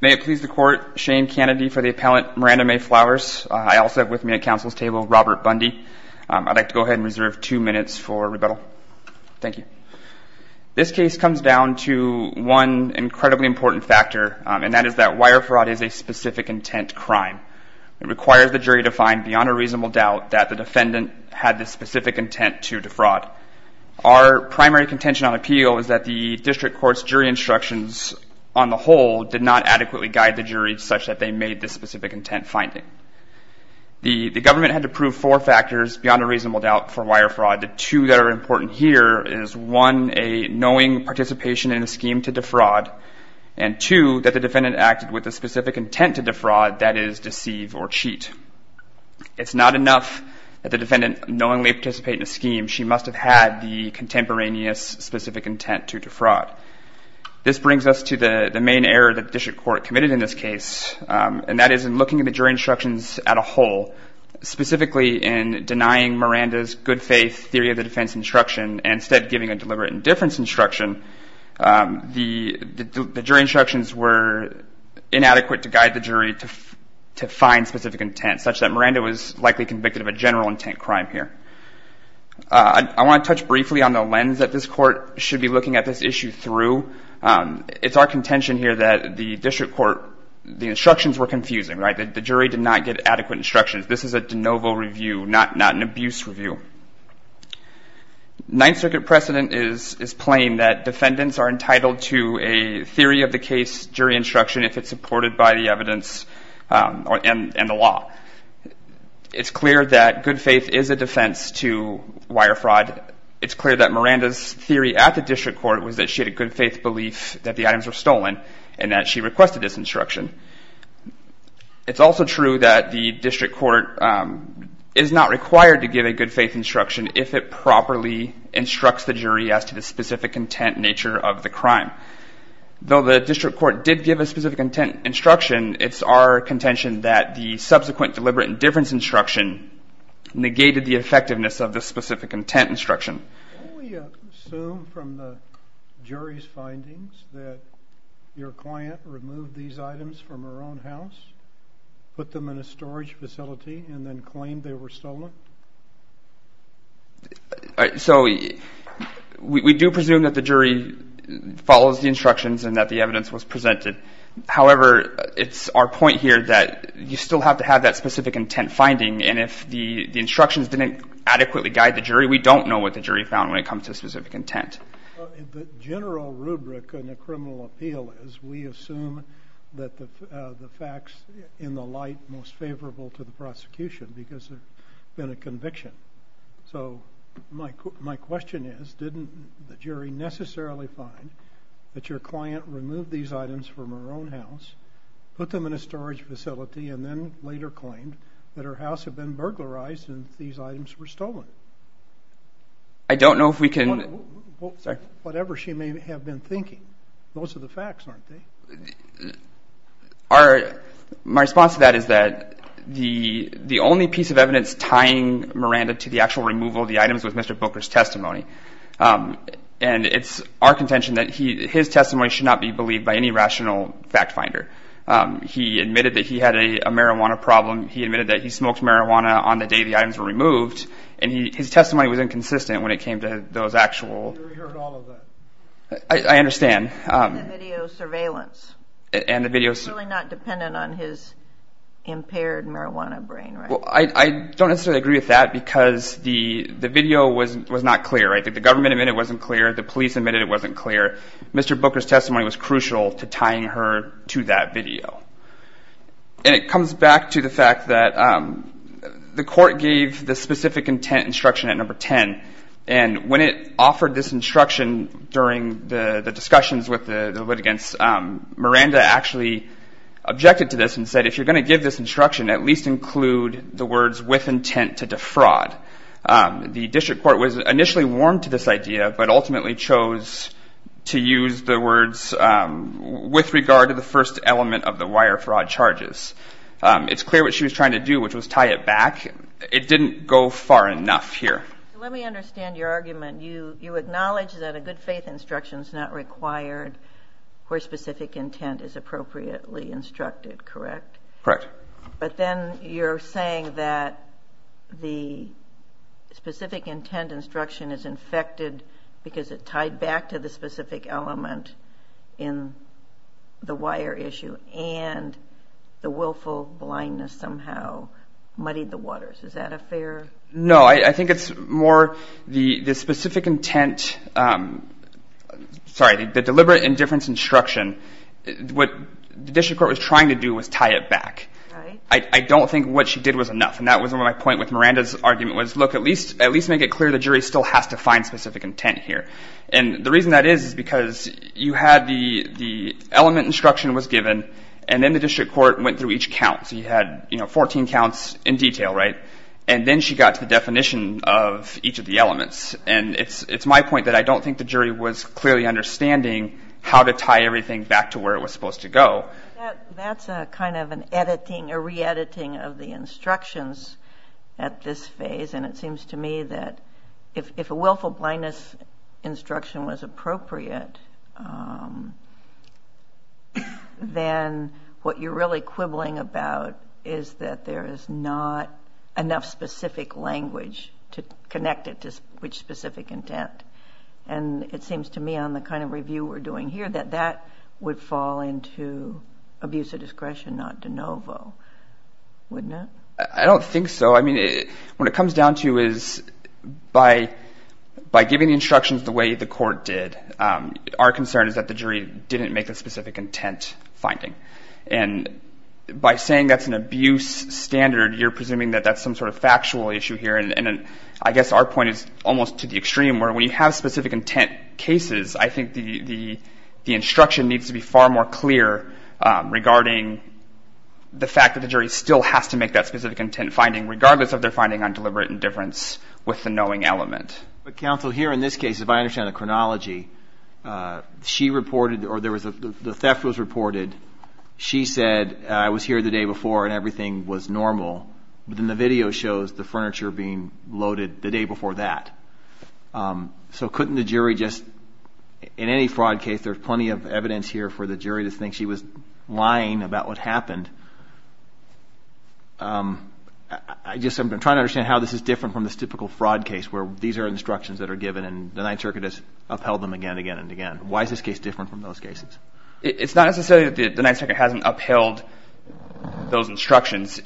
May it please the court, Shane Kennedy for the appellant Miranda May Flowers. I also have with me at counsel's table Robert Bundy. I'd like to go ahead and reserve two minutes for rebuttal. Thank you. This case comes down to one incredibly important factor, and that is that wire fraud is a specific intent crime. It requires the jury to find beyond a reasonable doubt that the defendant had this specific intent to defraud. Our primary contention on appeal is that the district court's jury instructions on the whole did not adequately guide the jury such that they made this specific intent finding. The government had to prove four factors beyond a reasonable doubt for wire fraud. The two that are important here is one, a knowing participation in a scheme to defraud, and two, that the defendant acted with a specific intent to defraud, that is deceive or cheat. It's not enough that the defendant knowingly participated in a scheme. She must have had the contemporaneous specific intent to defraud. This brings us to the main error that the district court committed in this case, and that is in looking at the jury instructions as a whole, specifically in denying Miranda's good faith theory of the defense instruction, and instead giving a deliberate indifference instruction, the jury instructions were inadequate to guide the jury to find specific intent, such that Miranda was likely convicted of a general intent crime here. I want to touch briefly on the lens that this court should be looking at this issue through. It's our contention here that the district court, the instructions were confusing. The jury did not get adequate instructions. This is a de novo review, not an abuse review. Ninth Circuit precedent is plain that defendants are entitled to a theory of the case jury instruction if it's supported by the evidence and the law. It's clear that good faith is a defense to wire fraud. It's clear that Miranda's theory at the district court was that she had a good faith belief that the items were stolen, and that she requested this instruction. It's also true that the district court is not required to give a good faith instruction if it properly instructs the jury as to the specific intent nature of the crime. Though the district court did give a specific intent instruction, it's our contention that the subsequent deliberate indifference instruction negated the effectiveness of the specific intent instruction. Can we assume from the jury's findings that your client removed these items from her own house, put them in a storage facility, and then claimed they were stolen? We do presume that the jury follows the instructions and that the evidence was presented. However, it's our point here that you still have to have that specific intent finding, and if the instructions didn't adequately guide the jury, we don't know what the jury found when it comes to specific intent. The general rubric in a criminal appeal is we assume that the facts in the light most favorable to the prosecution because there's been a conviction. So my question is, didn't the jury necessarily find that your client removed these items from her own house, put them in a storage facility, and then later claimed that her house had been burglarized and these items were stolen? I don't know if we can... Whatever she may have been thinking. Those are the facts, aren't they? My response to that is that the only piece of evidence tying Miranda to the actual removal of the items was Mr. Booker's testimony. And it's our contention that his testimony should not be believed by any rational fact finder. He admitted that he had a marijuana problem. He admitted that he smoked marijuana on the day the items were removed. And his testimony was inconsistent when it came to those actual... We heard all of that. I understand. And the video surveillance. And the video... It's really not dependent on his impaired marijuana brain, right? Well, I don't necessarily agree with that because the video was not clear. The government admitted it wasn't clear. The police admitted it wasn't clear. Mr. Booker's testimony was crucial to tying her to that video. And it comes back to the fact that the court gave the specific intent instruction at number 10. And when it offered this instruction during the discussions with the litigants, Miranda actually objected to this and said, if you're going to give this instruction, at least include the words, with intent to defraud. The district court was initially warm to this idea but ultimately chose to use the words, with regard to the first element of the wire fraud charges. It's clear what she was trying to do, which was tie it back. It didn't go far enough here. Let me understand your argument. You acknowledge that a good faith instruction is not required where specific intent is appropriately instructed, correct? Correct. But then you're saying that the specific intent instruction is infected because it tied back to the specific element in the wire issue and the willful blindness somehow muddied the waters. Is that a fair? No, I think it's more the specific intent, sorry, the deliberate indifference instruction, what the district court was trying to do was tie it back. I don't think what she did was enough. And that was my point with Miranda's argument was, look, at least make it clear the jury still has to find specific intent here. And the reason that is is because you had the element instruction was given and then the district court went through each count. So you had 14 counts in detail, right? And then she got to the definition of each of the elements. And it's my point that I don't think the jury was clearly understanding how to tie everything back to where it was supposed to go. That's a kind of an editing, a re-editing of the instructions at this phase. And it seems to me that if a willful blindness instruction was appropriate, then what you're really quibbling about is that there is not enough specific language to connect it to which specific intent. And it seems to me on the kind of review we're doing here that that would fall into abuse of discretion, not de novo, wouldn't it? I don't think so. I mean, what it comes down to is by giving instructions the way the court did, our concern is that the jury didn't make a specific intent finding. And by saying that's an abuse standard, you're presuming that that's some sort of factual issue here. And I guess our point is almost to the extreme where when you have specific intent cases, I think the instruction needs to be far more clear regarding the fact that the jury still has to make that specific intent finding, regardless of their finding on deliberate indifference with the knowing element. But counsel, here in this case, if I understand the chronology, she reported or the theft was reported, she said I was here the day before and everything was normal. But then the video shows the furniture being loaded the day before that. So couldn't the jury just, in any fraud case, there's plenty of evidence here for the jury to think she was lying about what happened. I guess I'm trying to understand how this is different from this typical fraud case where these are instructions that are given and the Ninth Circuit has upheld them again and again and again. Why is this case different from those cases? It's not necessarily that the Ninth Circuit hasn't upheld those instructions.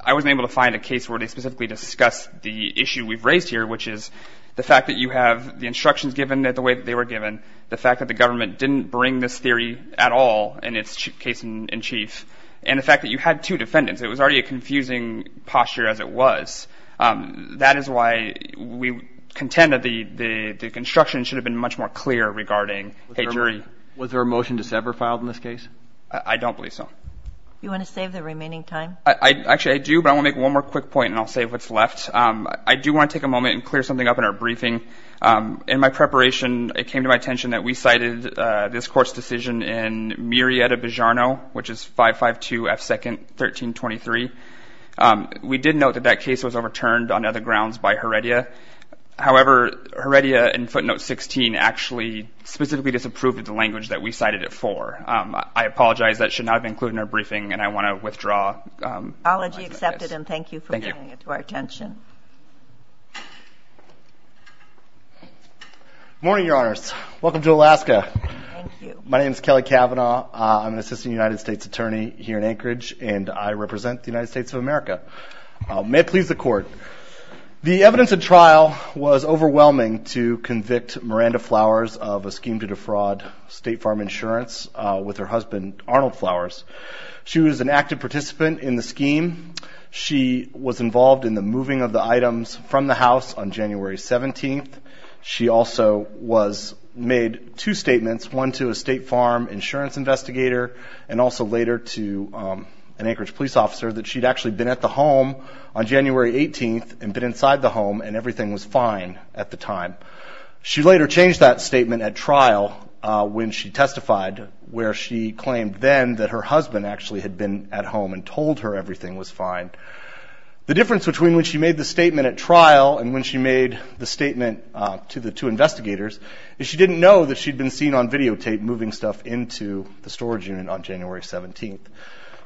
I wasn't able to find a case where they specifically discussed the issue we've raised here, which is the fact that you have the instructions given the way that they were given, the fact that the government didn't bring this theory at all in its case in chief, and the fact that you had two defendants, it was already a confusing posture as it was. That is why we contend that the construction should have been much more clear regarding a jury. Was there a motion to sever filed in this case? I don't believe so. You want to save the remaining time? Actually, I do, but I want to make one more quick point and I'll save what's left. I do want to take a moment and clear something up in our briefing. In my preparation, it came to my attention that we cited this Court's decision in Murrieta-Begiarno, which is 552 F. 2nd, 1323. We did note that that case was overturned on other grounds by Heredia. However, Heredia in footnote 16 actually specifically disapproved of the language that we cited it for. I apologize. That should not have been included in our briefing, and I want to withdraw. I'll let you accept it, and thank you for bringing it to our attention. My name is Kelly Cavanaugh. I'm an assistant United States attorney here in Anchorage, and I represent the United States of America. May it please the Court. The evidence at trial was overwhelming to convict Miranda Flowers of a scheme to defraud State Farm Insurance with her husband, Arnold Flowers. She was an active participant in the scheme. She was involved in the moving of the items from the house on January 17th. She also made two statements, one to a State Farm Insurance investigator and also later to an Anchorage police officer, that she'd actually been at the home on January 18th and been inside the home, and everything was fine at the time. She later changed that statement at trial when she testified, where she claimed then that her husband actually had been at home and told her everything was fine. The difference between when she made the statement at trial and when she made the statement to the two investigators is she didn't know that she'd been seen on videotape moving stuff into the storage unit on January 17th.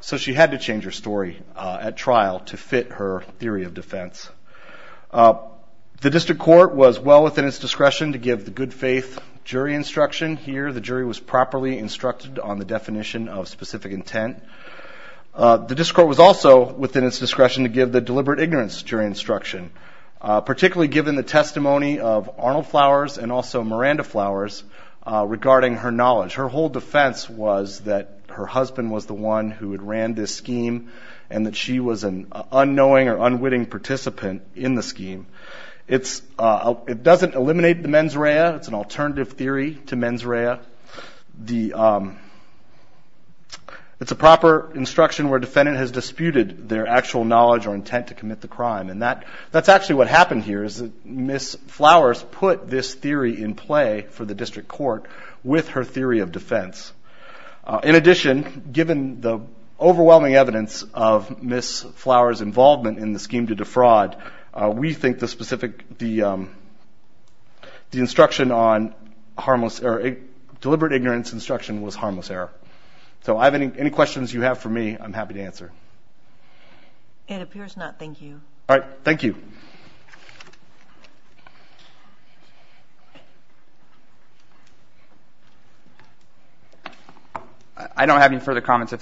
So she had to change her story at trial to fit her theory of defense. The District Court was well within its discretion to give the good-faith jury instruction. Here, the jury was properly instructed on the definition of specific intent. The District Court was also within its discretion to give the deliberate ignorance jury instruction, particularly given the testimony of Arnold Flowers and also Miranda Flowers regarding her knowledge. Her whole defense was that her husband was the one who had ran this scheme and that she was an unknowing or unwitting participant in the scheme. It doesn't eliminate the mens rea. It's an alternative theory to mens rea. It's a proper instruction where a defendant has disputed their actual knowledge or intent to commit the crime, and that's actually what happened here is that Ms. Flowers put this theory in play for the District Court with her theory of defense. In addition, given the overwhelming evidence of Ms. Flowers' involvement in the scheme to defraud, we think the deliberate ignorance instruction was harmless error. So I have any questions you have for me, I'm happy to answer. It appears not. Thank you. I don't have any further comments.